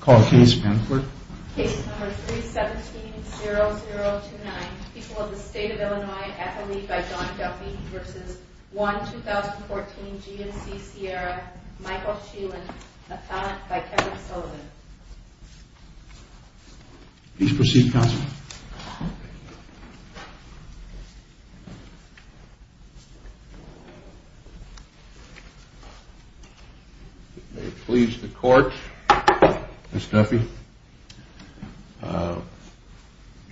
Call case pamphlet. Case number 317-0029, people of the state of Illinois, athlete by Don Duffy versus one 2014 GMC Sierra, Michael Sheelan, a talent by Kevin Sullivan. Please proceed, counsel. If it may please the court, Mr. Duffy.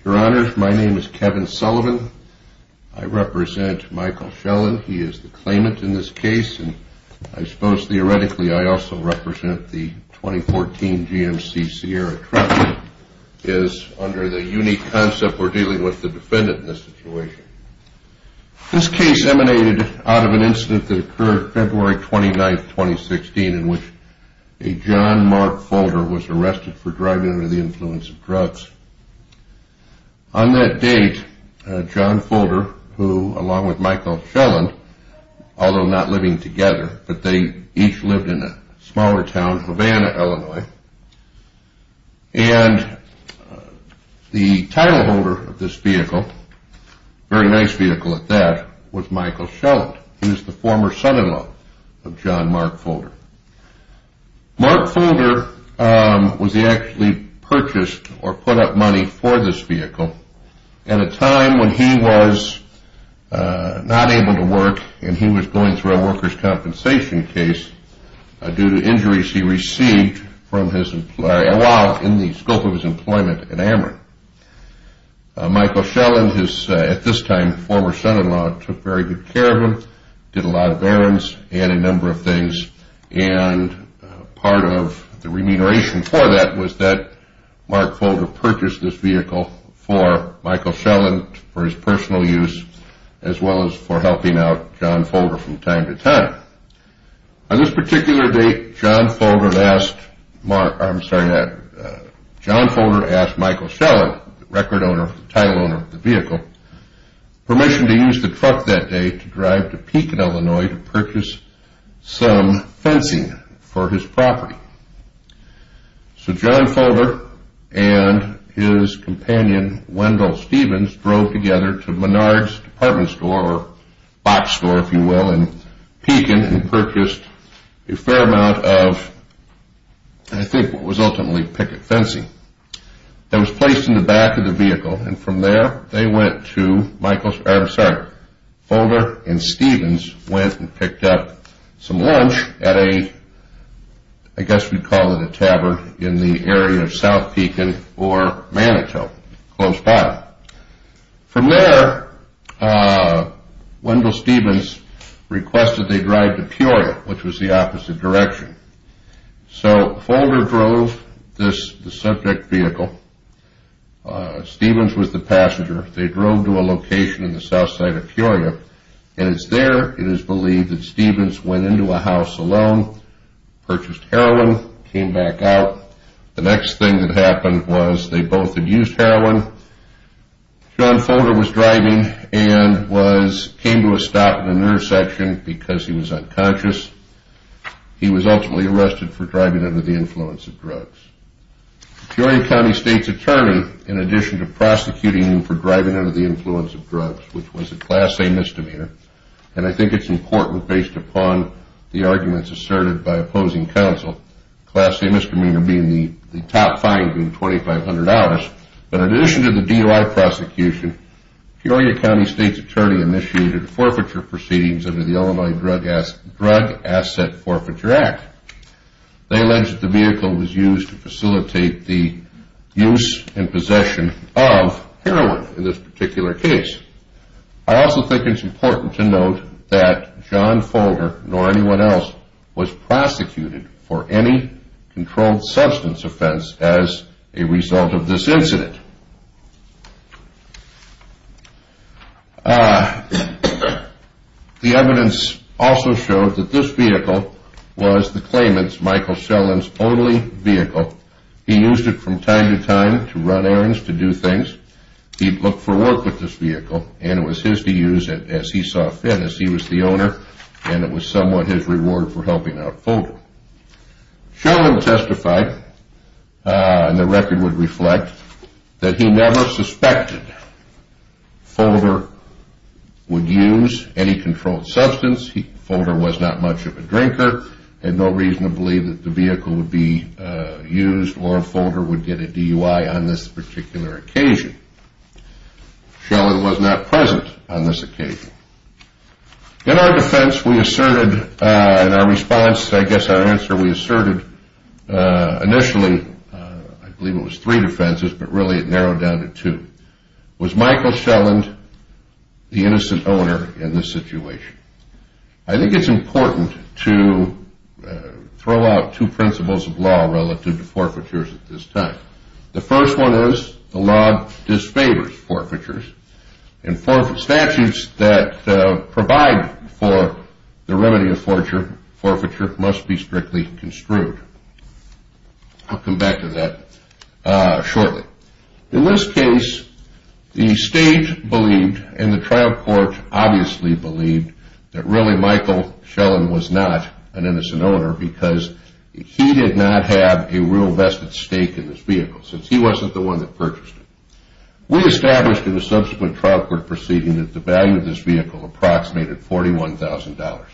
Your Honor, my name is Kevin Sullivan. I represent Michael Sheelan. He is the claimant in this case. And I suppose theoretically I also represent the 2014 GMC Sierra truck. It is under the unique concept we're dealing with the defendant in this situation. This case emanated out of an incident that occurred February 29, 2016, in which a John Mark Folger was arrested for driving under the influence of drugs. On that date, John Folger, who along with Michael Sheelan, although not living together, but they each lived in a smaller town, Havana, Illinois. And the title holder of this vehicle, very nice vehicle at that, was Michael Sheelan. He was the former son-in-law of John Mark Folger. Mark Folger was actually purchased or put up money for this vehicle at a time when he was not able to work and he was going through a worker's compensation case due to injuries he received from his employer, while in the scope of his employment at Amherst. Michael Sheelan, his at this time former son-in-law, took very good care of him, did a lot of errands, and a number of things. And part of the remuneration for that was that Mark Folger purchased this vehicle for Michael Sheelan, for his personal use, as well as for helping out John Folger from time to time. On this particular date, John Folger asked Michael Sheelan, record owner, title owner of the vehicle, permission to use the truck that day to drive to Pekin, Illinois to purchase some fencing for his property. So John Folger and his companion, Wendell Stevens, drove together to Menard's department store, or box store if you will, in Pekin and purchased a fair amount of, I think what was ultimately picket fencing. It was placed in the back of the vehicle, and from there they went to, I'm sorry, Folger and Stevens went and picked up some lunch at a, I guess we'd call it a tavern, in the area of South Pekin or Manitou, close by. From there, Wendell Stevens requested they drive to Peoria, which was the opposite direction. So Folger drove the subject vehicle. Stevens was the passenger. They drove to a location in the south side of Peoria, and it's there, it is believed, that Stevens went into a house alone, purchased heroin, came back out. The next thing that happened was they both had used heroin. John Folger was driving and came to a stop at an intersection because he was unconscious. He was ultimately arrested for driving under the influence of drugs. Peoria County State's Attorney, in addition to prosecuting him for driving under the influence of drugs, which was a Class A misdemeanor, and I think it's important based upon the arguments asserted by opposing counsel, Class A misdemeanor being the top fine being $2,500, but in addition to the DUI prosecution, Peoria County State's Attorney initiated forfeiture proceedings under the Illinois Drug Asset Forfeiture Act. They alleged the vehicle was used to facilitate the use and possession of heroin in this particular case. I also think it's important to note that John Folger, nor anyone else, was prosecuted for any controlled substance offense as a result of this incident. The evidence also showed that this vehicle was the claimant's, Michael Sheldon's, only vehicle. He used it from time to time to run errands, to do things. He looked for work with this vehicle, and it was his to use it as he saw fit, as he was the owner, and it was somewhat his reward for helping out Folger. Sheldon testified, and the record would reflect, that he never suspected Folger would use any controlled substance. Folger was not much of a drinker, had no reason to believe that the vehicle would be used, or Folger would get a DUI on this particular occasion. Sheldon was not present on this occasion. In our defense, we asserted, in our response, I guess our answer, we asserted initially, I believe it was three defenses, but really it narrowed down to two. Was Michael Sheldon the innocent owner in this situation? I think it's important to throw out two principles of law relative to forfeitures at this time. The first one is the law disfavors forfeitures, and statutes that provide for the remedy of forfeiture must be strictly construed. I'll come back to that shortly. In this case, the state believed, and the trial court obviously believed, that really Michael Sheldon was not an innocent owner because he did not have a real vested stake in this vehicle, since he wasn't the one that purchased it. We established in the subsequent trial court proceeding that the value of this vehicle approximated $41,000.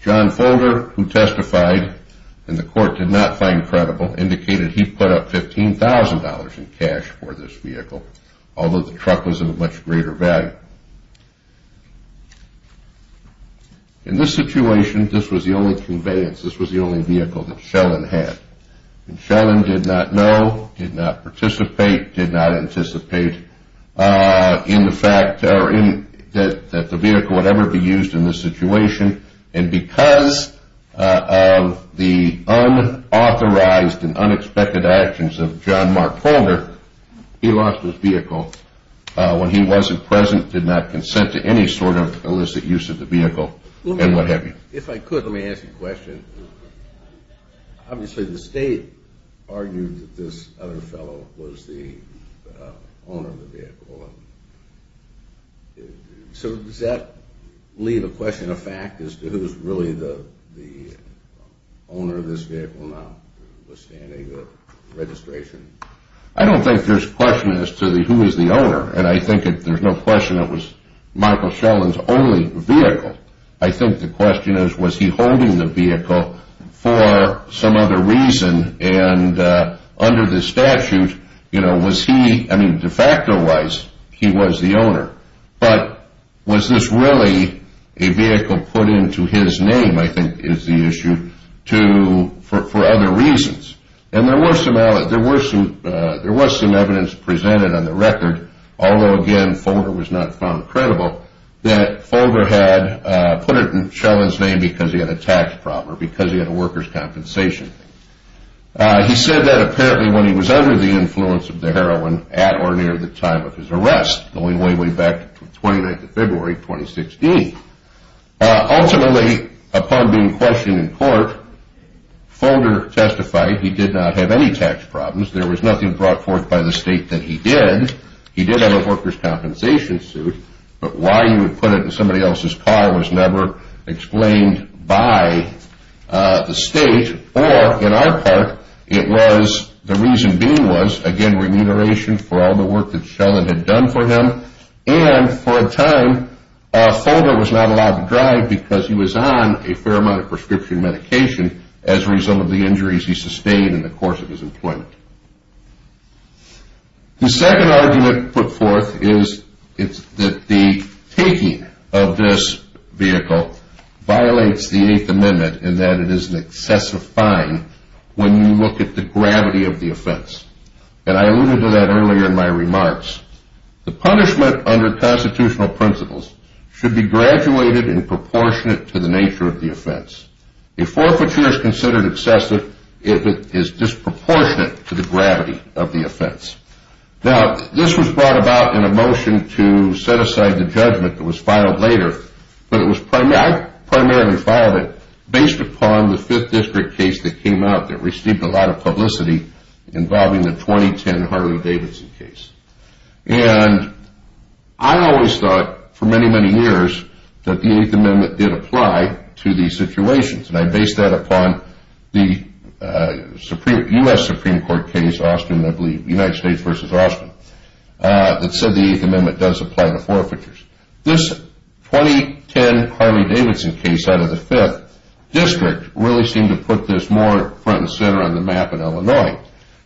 John Folger, who testified, and the court did not find credible, indicated he put up $15,000 in cash for this vehicle, although the truck was of a much greater value. In this situation, this was the only conveyance, this was the only vehicle that Sheldon had. Sheldon did not know, did not participate, did not anticipate that the vehicle would ever be used in this situation, and because of the unauthorized and unexpected actions of John Mark Folger, he lost his vehicle when he wasn't present, did not consent to any sort of illicit use of the vehicle, and what have you. If I could, let me ask you a question. Obviously, the state argued that this other fellow was the owner of the vehicle. So does that leave a question of fact as to who's really the owner of this vehicle, notwithstanding the registration? I don't think there's a question as to who is the owner, and I think there's no question it was Michael Sheldon's only vehicle. I think the question is, was he holding the vehicle for some other reason, and under the statute, was he, I mean, de facto-wise, he was the owner. But was this really a vehicle put into his name, I think is the issue, for other reasons? And there was some evidence presented on the record, although again, Folger was not found credible, that Folger had put it in Sheldon's name because he had a tax problem or because he had a workers' compensation. He said that apparently when he was under the influence of the heroin at or near the time of his arrest, going way, way back to February 29, 2016. Ultimately, upon being questioned in court, Folger testified he did not have any tax problems. There was nothing brought forth by the state that he did. He did have a workers' compensation suit, but why he would put it in somebody else's car was never explained by the state. Or, in our part, it was, the reason being was, again, remuneration for all the work that Sheldon had done for him. And, for a time, Folger was not allowed to drive because he was on a fair amount of prescription medication as a result of the injuries he sustained in the course of his employment. The second argument put forth is that the taking of this vehicle violates the Eighth Amendment in that it is an excessive fine when you look at the gravity of the offense. And I alluded to that earlier in my remarks. The punishment under constitutional principles should be graduated and proportionate to the nature of the offense. A forfeiture is considered excessive if it is disproportionate to the gravity of the offense. Now, this was brought about in a motion to set aside the judgment that was filed later, but I primarily filed it based upon the Fifth District case that came out that received a lot of publicity involving the 2010 Harley-Davidson case. And I always thought, for many, many years, that the Eighth Amendment did apply to these situations. And I based that upon the U.S. Supreme Court case, Austin, I believe, United States v. Austin, that said the Eighth Amendment does apply to forfeitures. This 2010 Harley-Davidson case out of the Fifth District really seemed to put this more front and center on the map in Illinois.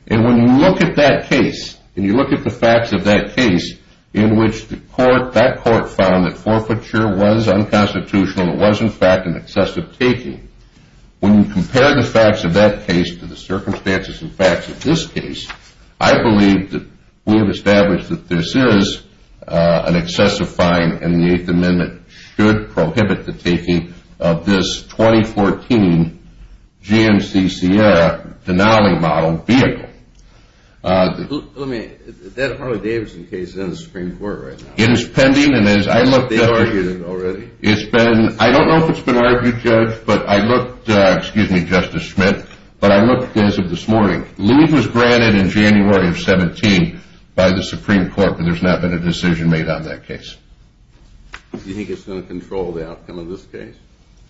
And when you look at that case, and you look at the facts of that case, in which that court found that forfeiture was unconstitutional and was, in fact, an excessive taking, when you compare the facts of that case to the circumstances and facts of this case, I believe that we have established that this is an excessive fine, and the Eighth Amendment should prohibit the taking of this 2014 GMC Sierra Denali model vehicle. Let me, that Harley-Davidson case is in the Supreme Court right now. It is pending, and as I looked at it. They argued it already. It's been, I don't know if it's been argued, Judge, but I looked, excuse me, Justice Schmidt, but I looked as of this morning. Leave was granted in January of 17 by the Supreme Court, but there's not been a decision made on that case. Do you think it's going to control the outcome of this case?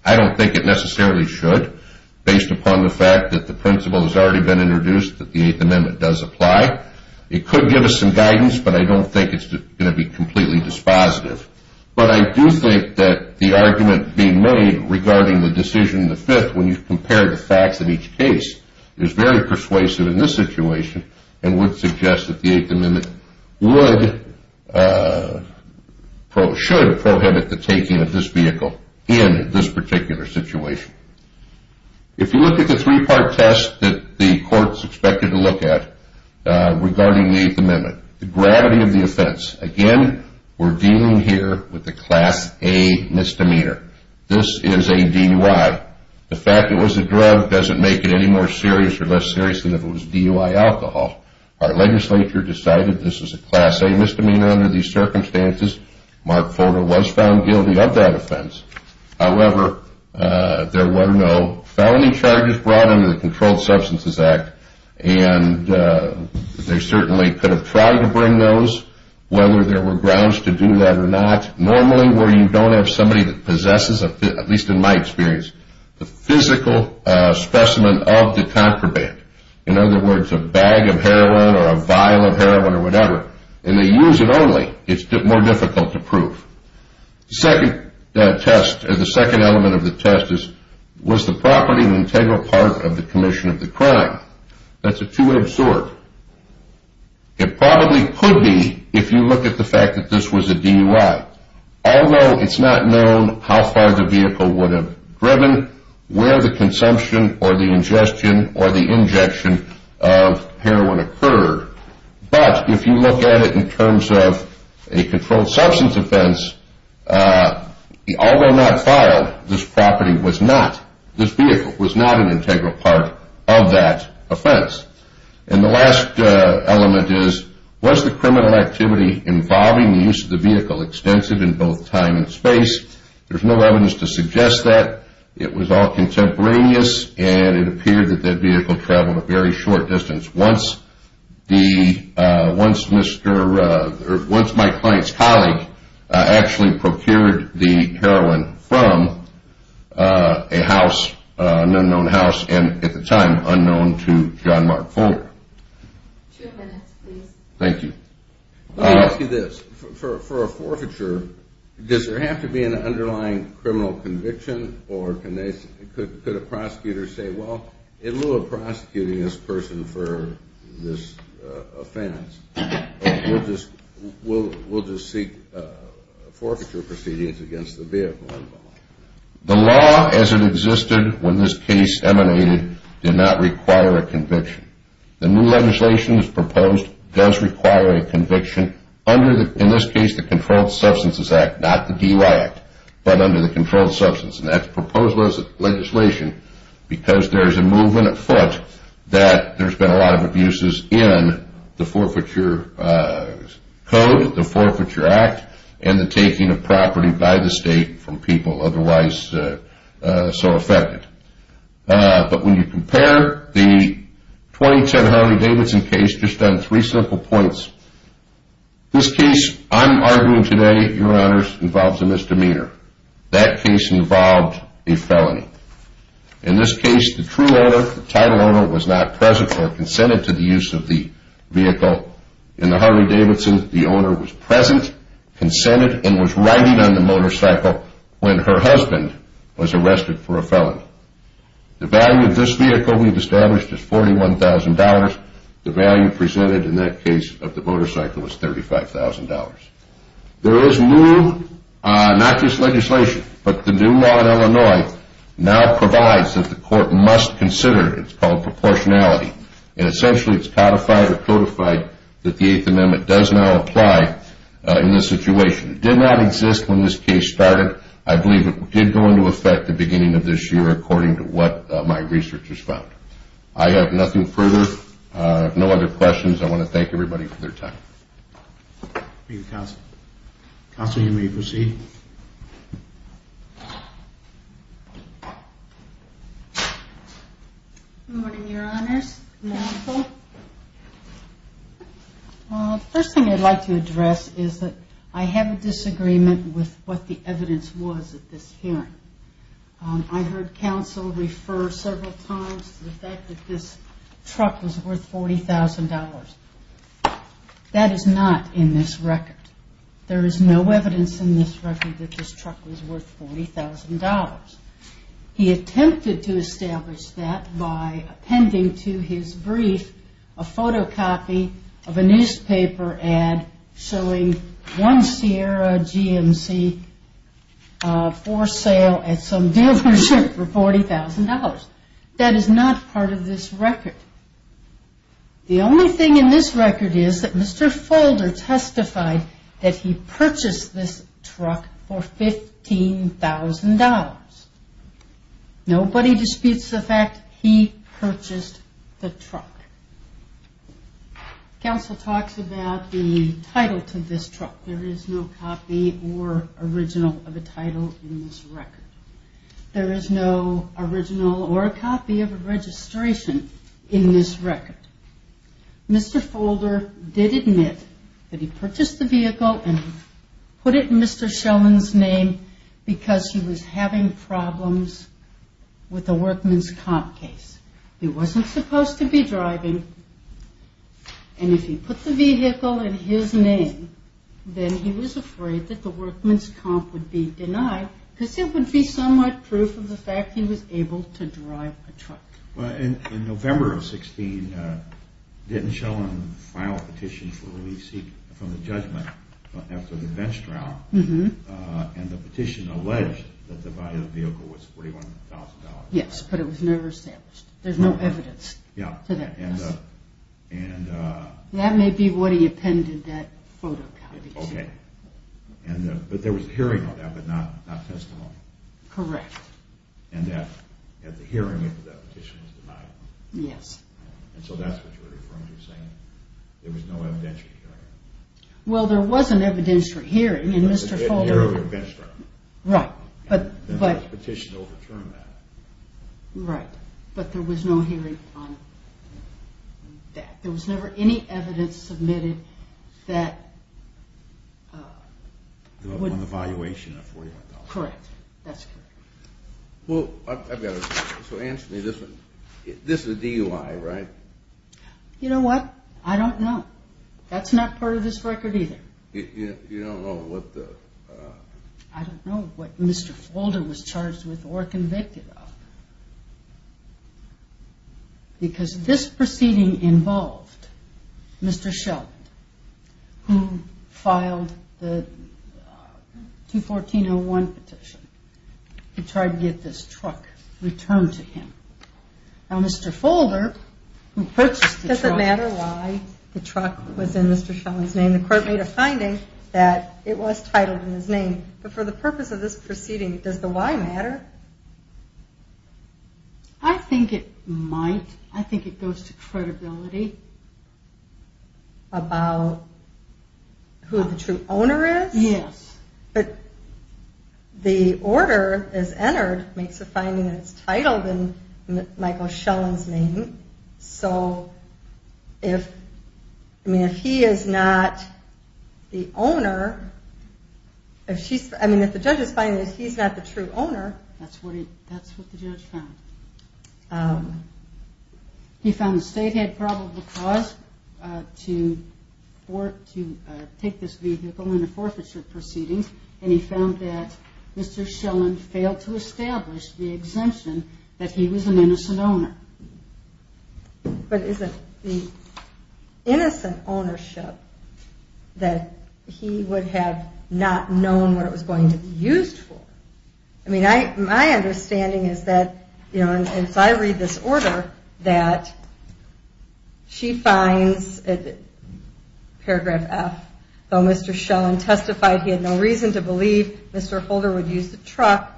I don't think it necessarily should, based upon the fact that the principle has already been introduced that the Eighth Amendment does apply. It could give us some guidance, but I don't think it's going to be completely dispositive. But I do think that the argument being made regarding the decision in the Fifth, when you compare the facts of each case, is very persuasive in this situation and would suggest that the Eighth Amendment would, should prohibit the taking of this vehicle in this particular situation. If you look at the three-part test that the courts expected to look at regarding the Eighth Amendment, the gravity of the offense, again, we're dealing here with a Class A misdemeanor. This is a DUI. The fact it was a drug doesn't make it any more serious or less serious than if it was DUI alcohol. Our legislature decided this was a Class A misdemeanor under these circumstances. Mark Fodor was found guilty of that offense. However, there were no felony charges brought under the Controlled Substances Act, and they certainly could have tried to bring those, whether there were grounds to do that or not. Normally, where you don't have somebody that possesses, at least in my experience, the physical specimen of the contraband, in other words, a bag of heroin or a vial of heroin or whatever, and they use it only, it's more difficult to prove. The second test, the second element of the test is, was the property an integral part of the commission of the crime? That's a two-edged sword. It probably could be if you look at the fact that this was a DUI, although it's not known how far the vehicle would have driven, where the consumption or the ingestion or the injection of heroin occurred. But if you look at it in terms of a controlled substance offense, although not filed, this property was not, this vehicle was not an integral part of that offense. And the last element is, was the criminal activity involving the use of the vehicle extensive in both time and space? There's no evidence to suggest that. It was all contemporaneous, and it appeared that that vehicle traveled a very short distance. Once my client's colleague actually procured the heroin from a house, an unknown house, and at the time, unknown to John Mark Fuller. Two minutes, please. Thank you. Let me ask you this. For a forfeiture, does there have to be an underlying criminal conviction, or could a prosecutor say, well, in lieu of prosecuting this person for this offense, we'll just seek forfeiture proceedings against the vehicle? The law as it existed when this case emanated did not require a conviction. The new legislation that's proposed does require a conviction under, in this case, the Controlled Substances Act, not the DUI Act, but under the Controlled Substances. And that's proposed legislation because there's a movement afoot that there's been a lot of abuses in the forfeiture code, the Forfeiture Act, and the taking of property by the state from people otherwise so affected. But when you compare the 2010 Henry Davidson case just on three simple points, this case I'm arguing today, Your Honors, involves a misdemeanor. That case involved a felony. In this case, the true owner, the title owner, was not present or consented to the use of the vehicle. In the Henry Davidson, the owner was present, consented, and was riding on the motorcycle when her husband was arrested for a felony. The value of this vehicle we've established is $41,000. The value presented in that case of the motorcycle was $35,000. There is new, not just legislation, but the new law in Illinois now provides that the court must consider, it's called proportionality, and essentially it's codified or codified that the Eighth Amendment does now apply in this situation. It did not exist when this case started. I believe it did go into effect at the beginning of this year according to what my researchers found. I have nothing further. I have no other questions. I want to thank everybody for their time. Thank you, Counsel. Counsel, you may proceed. Good morning, Your Honors. The first thing I'd like to address is that I have a disagreement with what the evidence was at this hearing. I heard counsel refer several times to the fact that this truck was worth $40,000. That is not in this record. There is no evidence in this record that this truck was worth $40,000. He attempted to establish that by appending to his brief a photocopy of a newspaper ad showing one Sierra GMC for sale at some dealership for $40,000. That is not part of this record. The only thing in this record is that Mr. Folder testified that he purchased this truck for $15,000. Nobody disputes the fact he purchased the truck. Counsel talks about the title to this truck. There is no copy or original of a title in this record. There is no original or a copy of a registration in this record. Mr. Folder did admit that he purchased the vehicle and put it in Mr. Schelen's name because he was having problems with the workman's comp case. He wasn't supposed to be driving. If he put the vehicle in his name, then he was afraid that the workman's comp would be denied because it would be somewhat proof of the fact he was able to drive a truck. In November of 2016, Mr. Schelen filed a petition for release from the judgment after the bench drown. The petition alleged that the value of the vehicle was $41,000. Yes, but it was never established. There's no evidence to that. That may be what he appended that photo copy to. Okay, but there was a hearing on that but not testimony. Correct. And the hearing after that petition was denied. Yes. And so that's what you're referring to as saying there was no evidentiary hearing. Well, there was an evidentiary hearing in Mr. Folder. In the year of the bench drown. Right. The petition overturned that. Right. But there was no hearing on that. There was never any evidence submitted that would... On the valuation of $41,000. Correct. That's correct. Well, so answer me this one. This is a DUI, right? You know what? I don't know. That's not part of this record either. You don't know what the... I don't know what Mr. Folder was charged with or convicted of. Because this proceeding involved Mr. Sheldon, who filed the 214-01 petition to try to get this truck returned to him. Now, Mr. Folder, who purchased the truck... It doesn't matter why the truck was in Mr. Sheldon's name. I mean, the court made a finding that it was titled in his name. But for the purpose of this proceeding, does the why matter? I think it might. I think it goes to credibility. About who the true owner is? Yes. But the order, as entered, makes a finding that it's titled in Michael Sheldon's name. So, I mean, if he is not the owner... I mean, if the judge is finding that he's not the true owner... That's what the judge found. He found the state had probable cause to take this vehicle in a forfeiture proceeding, and he found that Mr. Sheldon failed to establish the exemption that he was an innocent owner. But is it the innocent ownership that he would have not known what it was going to be used for? I mean, my understanding is that, you know, as I read this order, that she finds in paragraph F, though Mr. Sheldon testified he had no reason to believe Mr. Holder would use the truck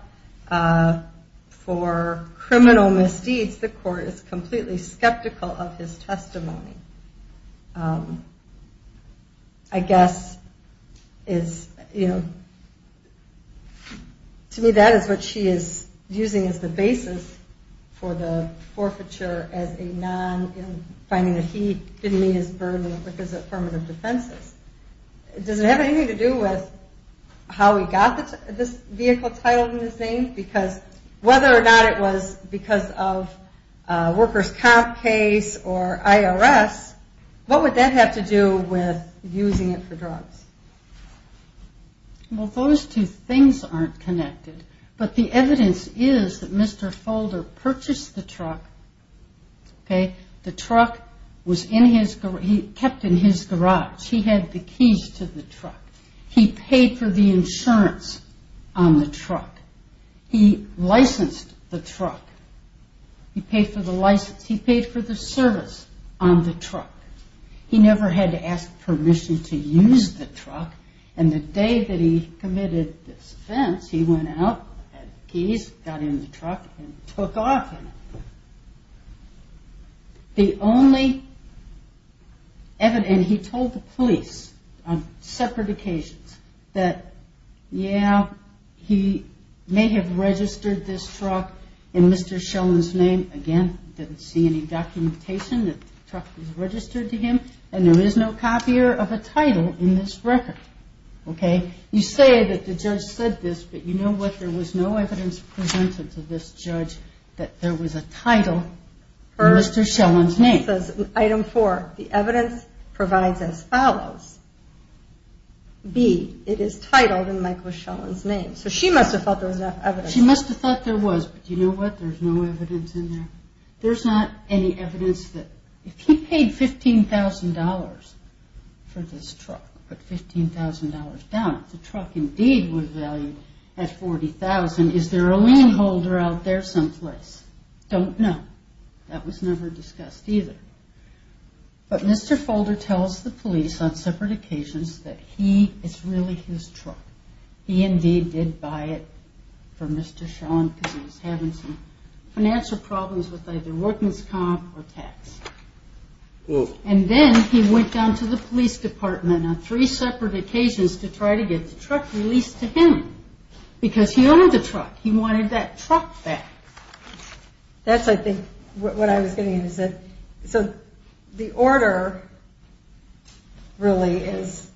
for criminal misdeeds, the court is completely skeptical of his testimony. I guess is, you know... To me, that is what she is using as the basis for the forfeiture as a non... finding that he didn't meet his burden with his affirmative defenses. Does it have anything to do with how he got this vehicle titled in his name? Because whether or not it was because of a worker's comp case or IRS, what would that have to do with using it for drugs? Well, those two things aren't connected, but the evidence is that Mr. Holder purchased the truck, okay? The truck was in his... he kept in his garage. He had the keys to the truck. He paid for the insurance on the truck. He licensed the truck. He paid for the license... he paid for the service on the truck. He never had to ask permission to use the truck, and the day that he committed this offense, he went out, had the keys, got in the truck, and took off. The only evidence... and he told the police on separate occasions that, yeah, he may have registered this truck in Mr. Sheldon's name. Again, didn't see any documentation that the truck was registered to him, and there is no copier of a title in this record, okay? You say that the judge said this, but you know what, there was no evidence presented to this judge that there was a title in Mr. Sheldon's name. Item four, the evidence provides as follows. B, it is titled in Michael Sheldon's name. So she must have thought there was enough evidence. She must have thought there was, but you know what, there's no evidence in there. There's not any evidence that... if he paid $15,000 for this truck, put $15,000 down, if the truck indeed was valued at $40,000, is there a loan holder out there someplace? Don't know. That was never discussed either. But Mr. Folder tells the police on separate occasions that he, it's really his truck. He indeed did buy it for Mr. Sheldon because he was having some financial problems with either workman's comp or tax. And then he went down to the police department on three separate occasions to try to get the truck released to him because he owned the truck. He wanted that truck back. That's, I think, what I was getting at is that... So the order really is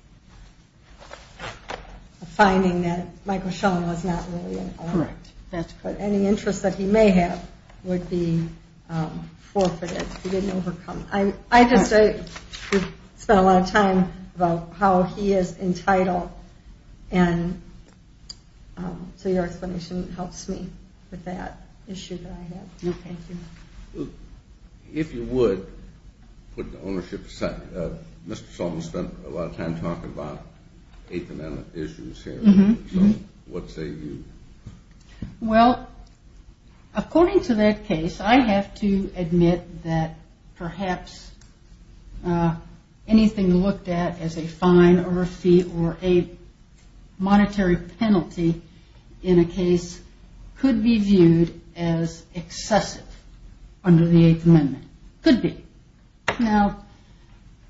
a finding that Michael Sheldon was not really an owner. Correct. But any interest that he may have would be forfeited. He didn't overcome... I just spent a lot of time about how he is entitled and so your explanation helps me with that issue that I have. No, thank you. If you would put the ownership aside, Mr. Sheldon spent a lot of time talking about Eighth Amendment issues here. So what say you? Well, according to that case, I have to admit that perhaps anything looked at could be viewed as excessive under the Eighth Amendment. Could be. Now,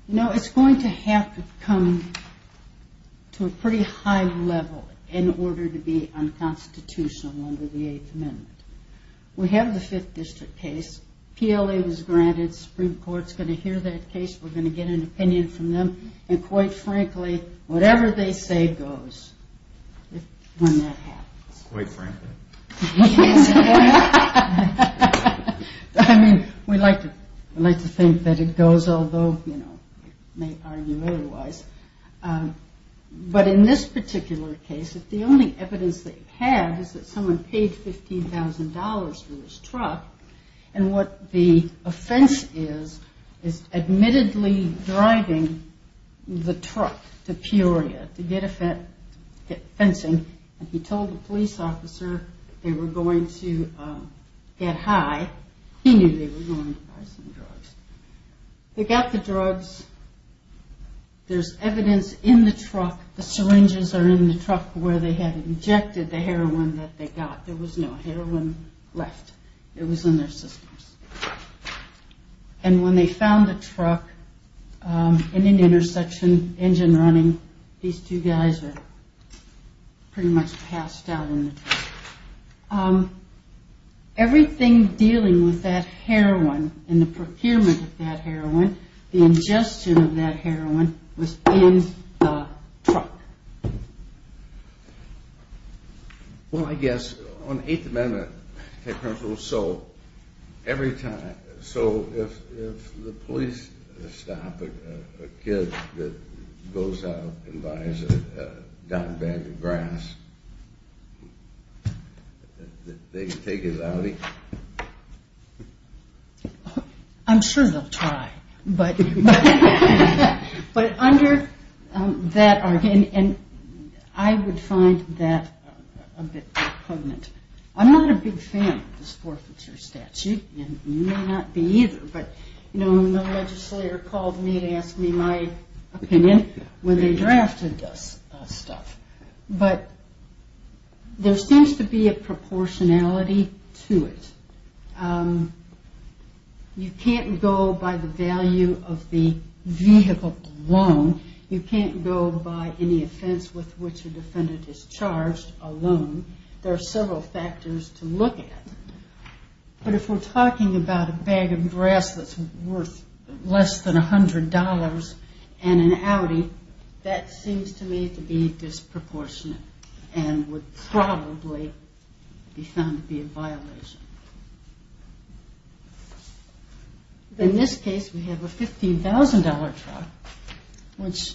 it's going to have to come to a pretty high level in order to be unconstitutional under the Eighth Amendment. We have the Fifth District case. PLA was granted. The Supreme Court is going to hear that case. We're going to get an opinion from them. And quite frankly, whatever they say goes when that happens. Quite frankly. Yes. I mean, we like to think that it goes, although, you know, we may argue otherwise. But in this particular case, the only evidence they have is that someone paid $15,000 for his truck. And what the offense is, is admittedly driving the truck to Peoria to get fencing. And he told the police officer they were going to get high. He knew they were going to buy some drugs. They got the drugs. There's evidence in the truck. The syringes are in the truck where they had injected the heroin that they got. There was no heroin left. It was in their systems. And when they found the truck in an intersection, engine running, these two guys are pretty much passed out in the truck. Everything dealing with that heroin and the procurement of that heroin, the ingestion of that heroin was in the truck. Well, I guess, on the Eighth Amendment, so every time, so if the police stop a kid that goes out and buys a downed bag of grass, they take his Audi? I'm sure they'll try. But under that argument, I would find that a bit prominent. I'm not a big fan of this forfeiture statute, and you may not be either, but the legislator called me to ask me my opinion when they drafted this stuff. But there seems to be a proportionality to it. You can't go by the value of the vehicle alone. You can't go by any offense with which a defendant is charged alone. There are several factors to look at. But if we're talking about a bag of grass that's worth less than $100 and an Audi, that seems to me to be disproportionate and would probably be found to be a violation. In this case, we have a $15,000 truck, which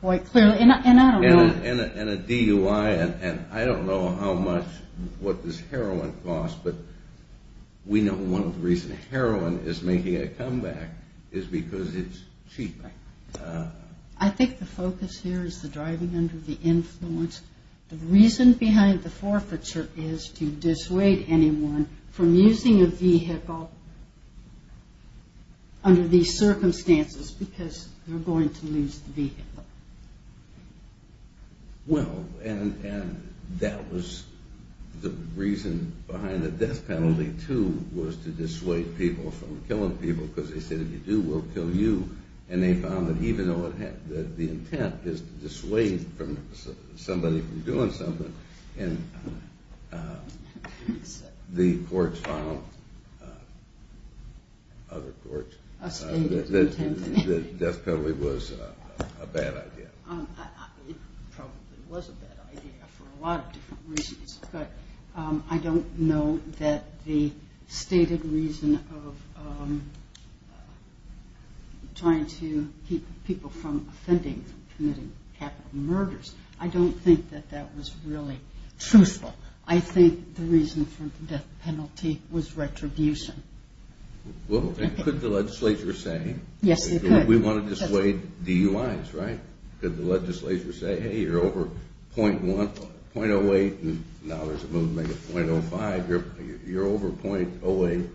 quite clearly, and I don't know. And a DUI, and I don't know how much what this heroin costs, but we know one of the reasons heroin is making a comeback is because it's cheap. I think the focus here is the driving under the influence. The reason behind the forfeiture is to dissuade anyone from using a vehicle under these circumstances because they're going to lose the vehicle. Well, and that was the reason behind the death penalty, too, was to dissuade people from killing people because they said if you do, we'll kill you. And they found that even though the intent is to dissuade somebody from doing something, the courts filed other courts. The death penalty was a bad idea. It probably was a bad idea for a lot of different reasons, but I don't know that the stated reason of trying to keep people from offending, committing capital murders, I don't think that that was really truthful. I think the reason for the death penalty was retribution. Well, could the legislature say we want to dissuade DUIs, right? Could the legislature say, hey, you're over .08, and now there's a move to make it .05. You're over .08.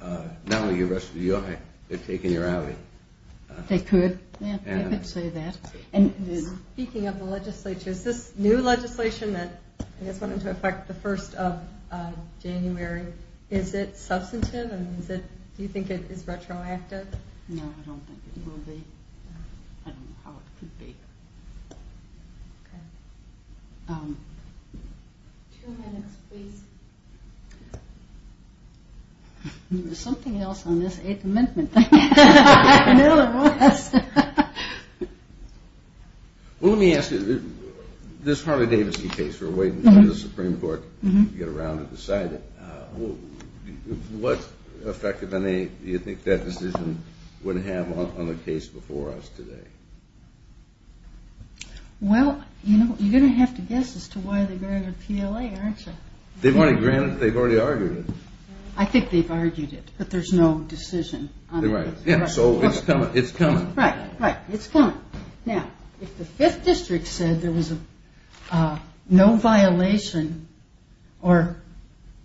Now the rest of the UI, they've taken your alley. They could. Yeah, they could say that. And speaking of the legislature, is this new legislation that I guess went into effect the 1st of January, is it substantive and do you think it is retroactive? No, I don't think it will be. I don't know how it could be. Okay. Two minutes, please. There's something else on this Eighth Amendment thing. I know there was. Well, let me ask you. This Harley-Davidson case we're waiting for the Supreme Court to get around and decide it. What effect do you think that decision would have on the case before us today? Well, you're going to have to guess as to why they granted PLA, aren't you? They've already granted it. They've already argued it. I think they've argued it, but there's no decision on it. Yeah, so it's coming. Right, right. It's coming. Now, if the Fifth District said there was no violation or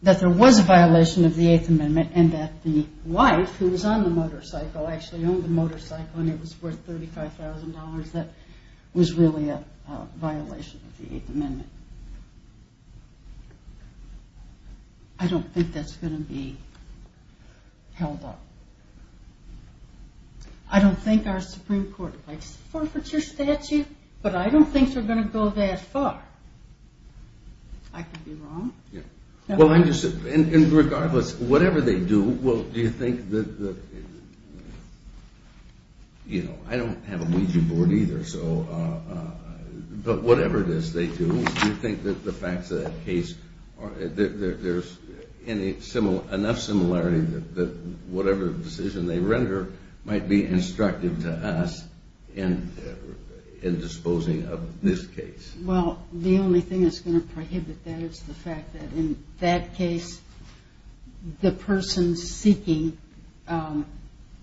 that there was a violation of the Eighth Amendment and that the wife who was on the motorcycle actually owned the motorcycle and it was worth $35,000, that was really a violation of the Eighth Amendment. I don't think that's going to be held up. I don't think our Supreme Court might forfeiture statute, but I don't think they're going to go that far. I could be wrong. Well, regardless, whatever they do, do you think that the facts of that case, there's enough similarity that whatever decision they render might be instructive to us in disposing of this case? Well, the only thing that's going to prohibit that is the fact that, in that case, the person seeking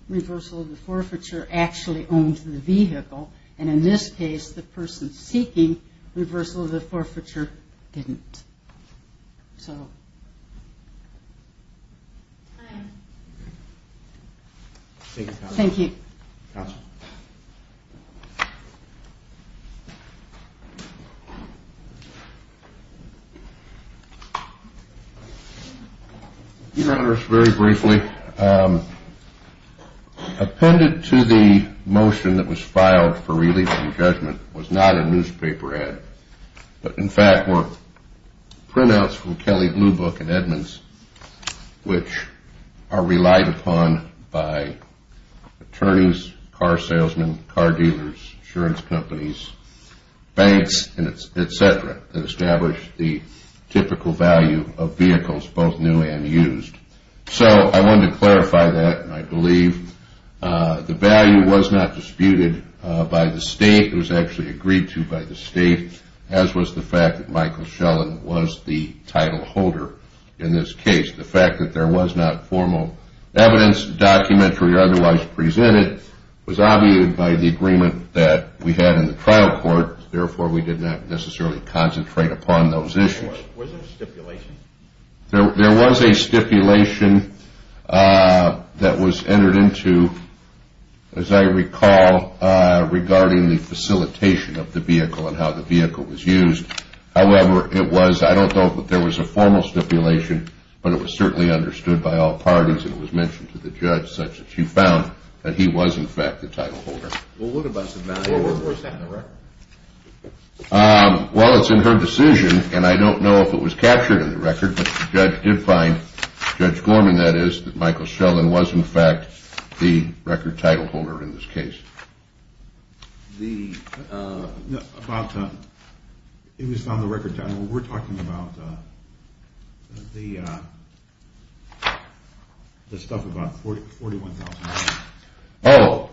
reversal of the forfeiture actually owned the vehicle, and in this case, the person seeking reversal of the forfeiture didn't. So. Thank you. Counsel. Your Honors, very briefly, appended to the motion that was filed for release and judgment was not a newspaper ad, but, in fact, were printouts from Kelly Blue Book and Edmonds, which are relied upon by attorneys, car salesmen, car dealers, insurance companies, banks, and et cetera that establish the typical value of vehicles both new and used. So I wanted to clarify that, and I believe the value was not disputed by the state. It was actually agreed to by the state, as was the fact that Michael Shellen was the title holder in this case. The fact that there was not formal evidence, documentary or otherwise presented, was obviated by the agreement that we had in the trial court. Therefore, we did not necessarily concentrate upon those issues. Was there a stipulation? There was a stipulation that was entered into, as I recall, regarding the facilitation of the vehicle and how the vehicle was used. However, it was, I don't know if there was a formal stipulation, but it was certainly understood by all parties, and it was mentioned to the judge such that she found that he was, in fact, the title holder. Well, what about the value? Where was that in the record? Well, it's in her decision, and I don't know if it was captured in the record, but the judge did find, Judge Gorman, that is, that Michael Shellen was, in fact, the record title holder in this case. It was on the record title. We're talking about the stuff about $41,000. Oh,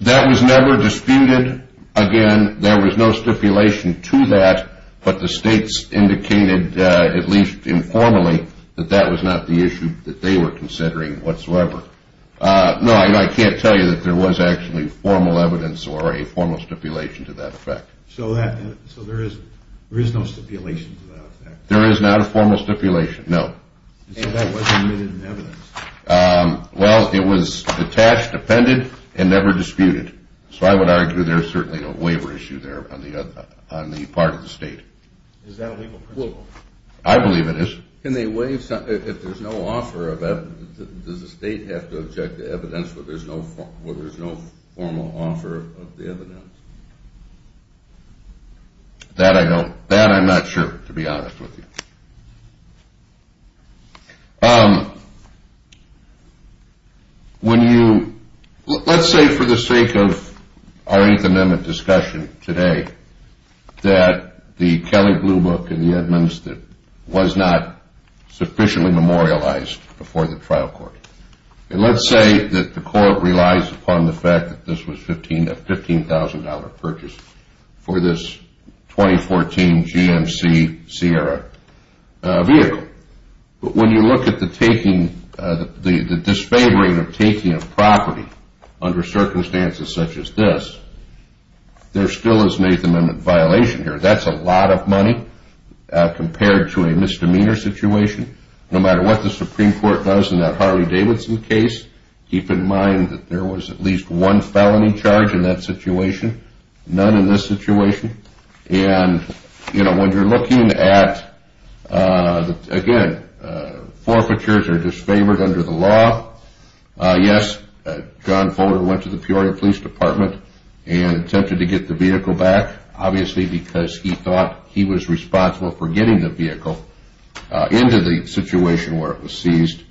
that was never disputed again. There was no stipulation to that, but the states indicated, at least informally, that that was not the issue that they were considering whatsoever. No, I can't tell you that there was actually formal evidence or a formal stipulation to that effect. So there is no stipulation to that effect? There is not a formal stipulation, no. So that wasn't written in evidence? Well, it was detached, appended, and never disputed. So I would argue there is certainly no waiver issue there on the part of the state. Is that a legal principle? I believe it is. If there's no offer of evidence, does the state have to object to evidence where there's no formal offer of the evidence? That I'm not sure, to be honest with you. Let's say for the sake of our Eighth Amendment discussion today that the Kelly Blue Book and the Edmonds was not sufficiently memorialized before the trial court. Let's say that the court relies upon the fact that this was a $15,000 purchase for this 2014 GMC Sierra vehicle. But when you look at the disfavoring of taking a property under circumstances such as this, there still is an Eighth Amendment violation here. That's a lot of money compared to a misdemeanor situation. No matter what the Supreme Court does in that Harley-Davidson case, keep in mind that there was at least one felony charge in that situation, none in this situation. And when you're looking at, again, forfeitures are disfavored under the law. Yes, John Fodor went to the Peoria Police Department and attempted to get the vehicle back, obviously because he thought he was responsible for getting the vehicle into the situation where it was seized.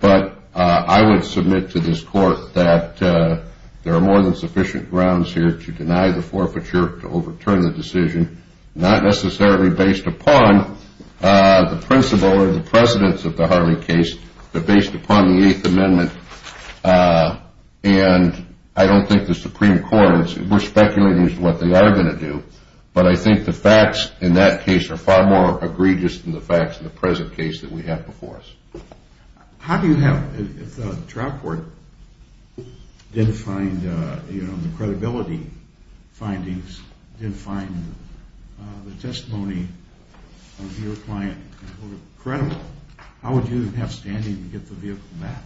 But I would submit to this court that there are more than sufficient grounds here to deny the forfeiture, to overturn the decision, not necessarily based upon the principle or the precedence of the Harley case, but based upon the Eighth Amendment. And I don't think the Supreme Court, we're speculating as to what they are going to do, but I think the facts in that case are far more egregious than the facts in the present case that we have before us. If the trial court didn't find the credibility findings, didn't find the testimony of your client credible, how would you have standing to get the vehicle back?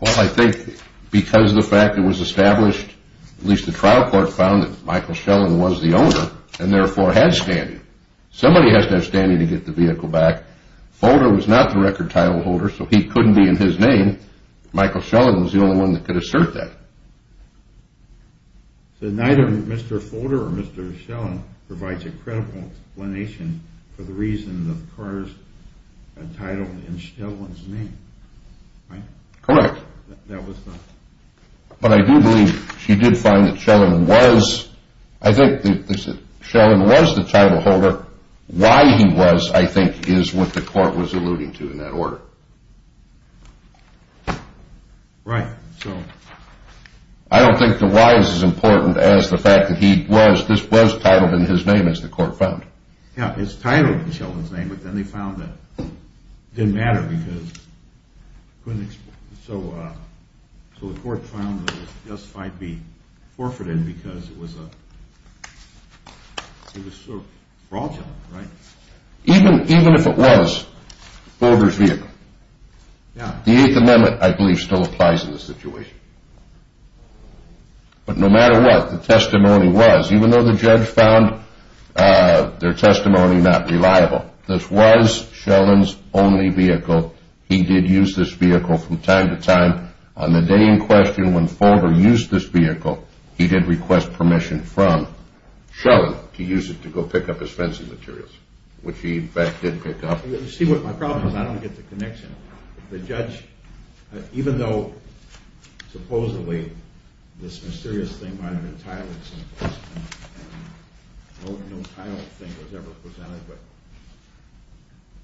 Well, I think because of the fact it was established, at least the trial court found that Michael Shellen was the owner, and therefore had standing. Somebody has to have standing to get the vehicle back. Fodor was not the record title holder, so he couldn't be in his name. Michael Shellen was the only one that could assert that. So neither Mr. Fodor or Mr. Shellen provides a credible explanation for the reason the car is entitled in Shellen's name, right? Correct. But I do believe she did find that Shellen was, I think that Shellen was the title holder. Why he was, I think, is what the court was alluding to in that order. Right. I don't think the why is as important as the fact that he was, this was titled in his name as the court found. Yeah, it's titled in Shellen's name, but then they found that it didn't matter because, so the court found that it just might be forfeited because it was sort of fraudulent, right? Even if it was Fodor's vehicle, the Eighth Amendment, I believe, still applies in this situation. But no matter what, the testimony was, even though the judge found their testimony not reliable, this was Shellen's only vehicle. He did use this vehicle from time to time. On the day in question when Fodor used this vehicle, he did request permission from Shellen to use it to go pick up his fencing materials, which he, in fact, did pick up. You see what my problem is, I don't get the connection. The judge, even though supposedly this mysterious thing might have been titled in some place, and no title thing was ever presented, but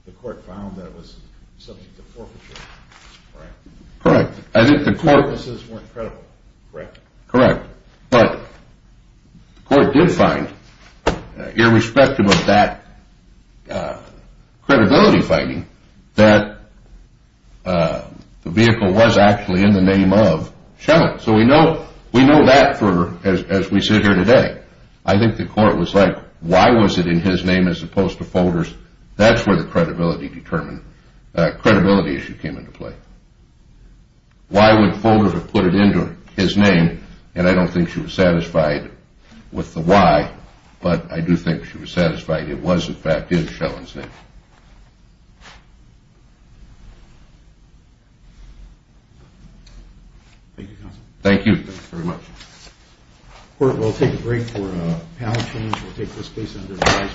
the court found that it was subject to forfeiture, correct? Correct. The purposes weren't credible, correct? Correct. But the court did find, irrespective of that credibility finding, that the vehicle was actually in the name of Shellen. So we know that as we sit here today. I think the court was like, why was it in his name as opposed to Fodor's? That's where the credibility issue came into play. Why would Fodor have put it into his name? And I don't think she was satisfied with the why, but I do think she was satisfied it was, in fact, in Shellen's name. Thank you, counsel. Thank you. Thank you very much. Court, we'll take a break for panel change. We'll take this case under advice.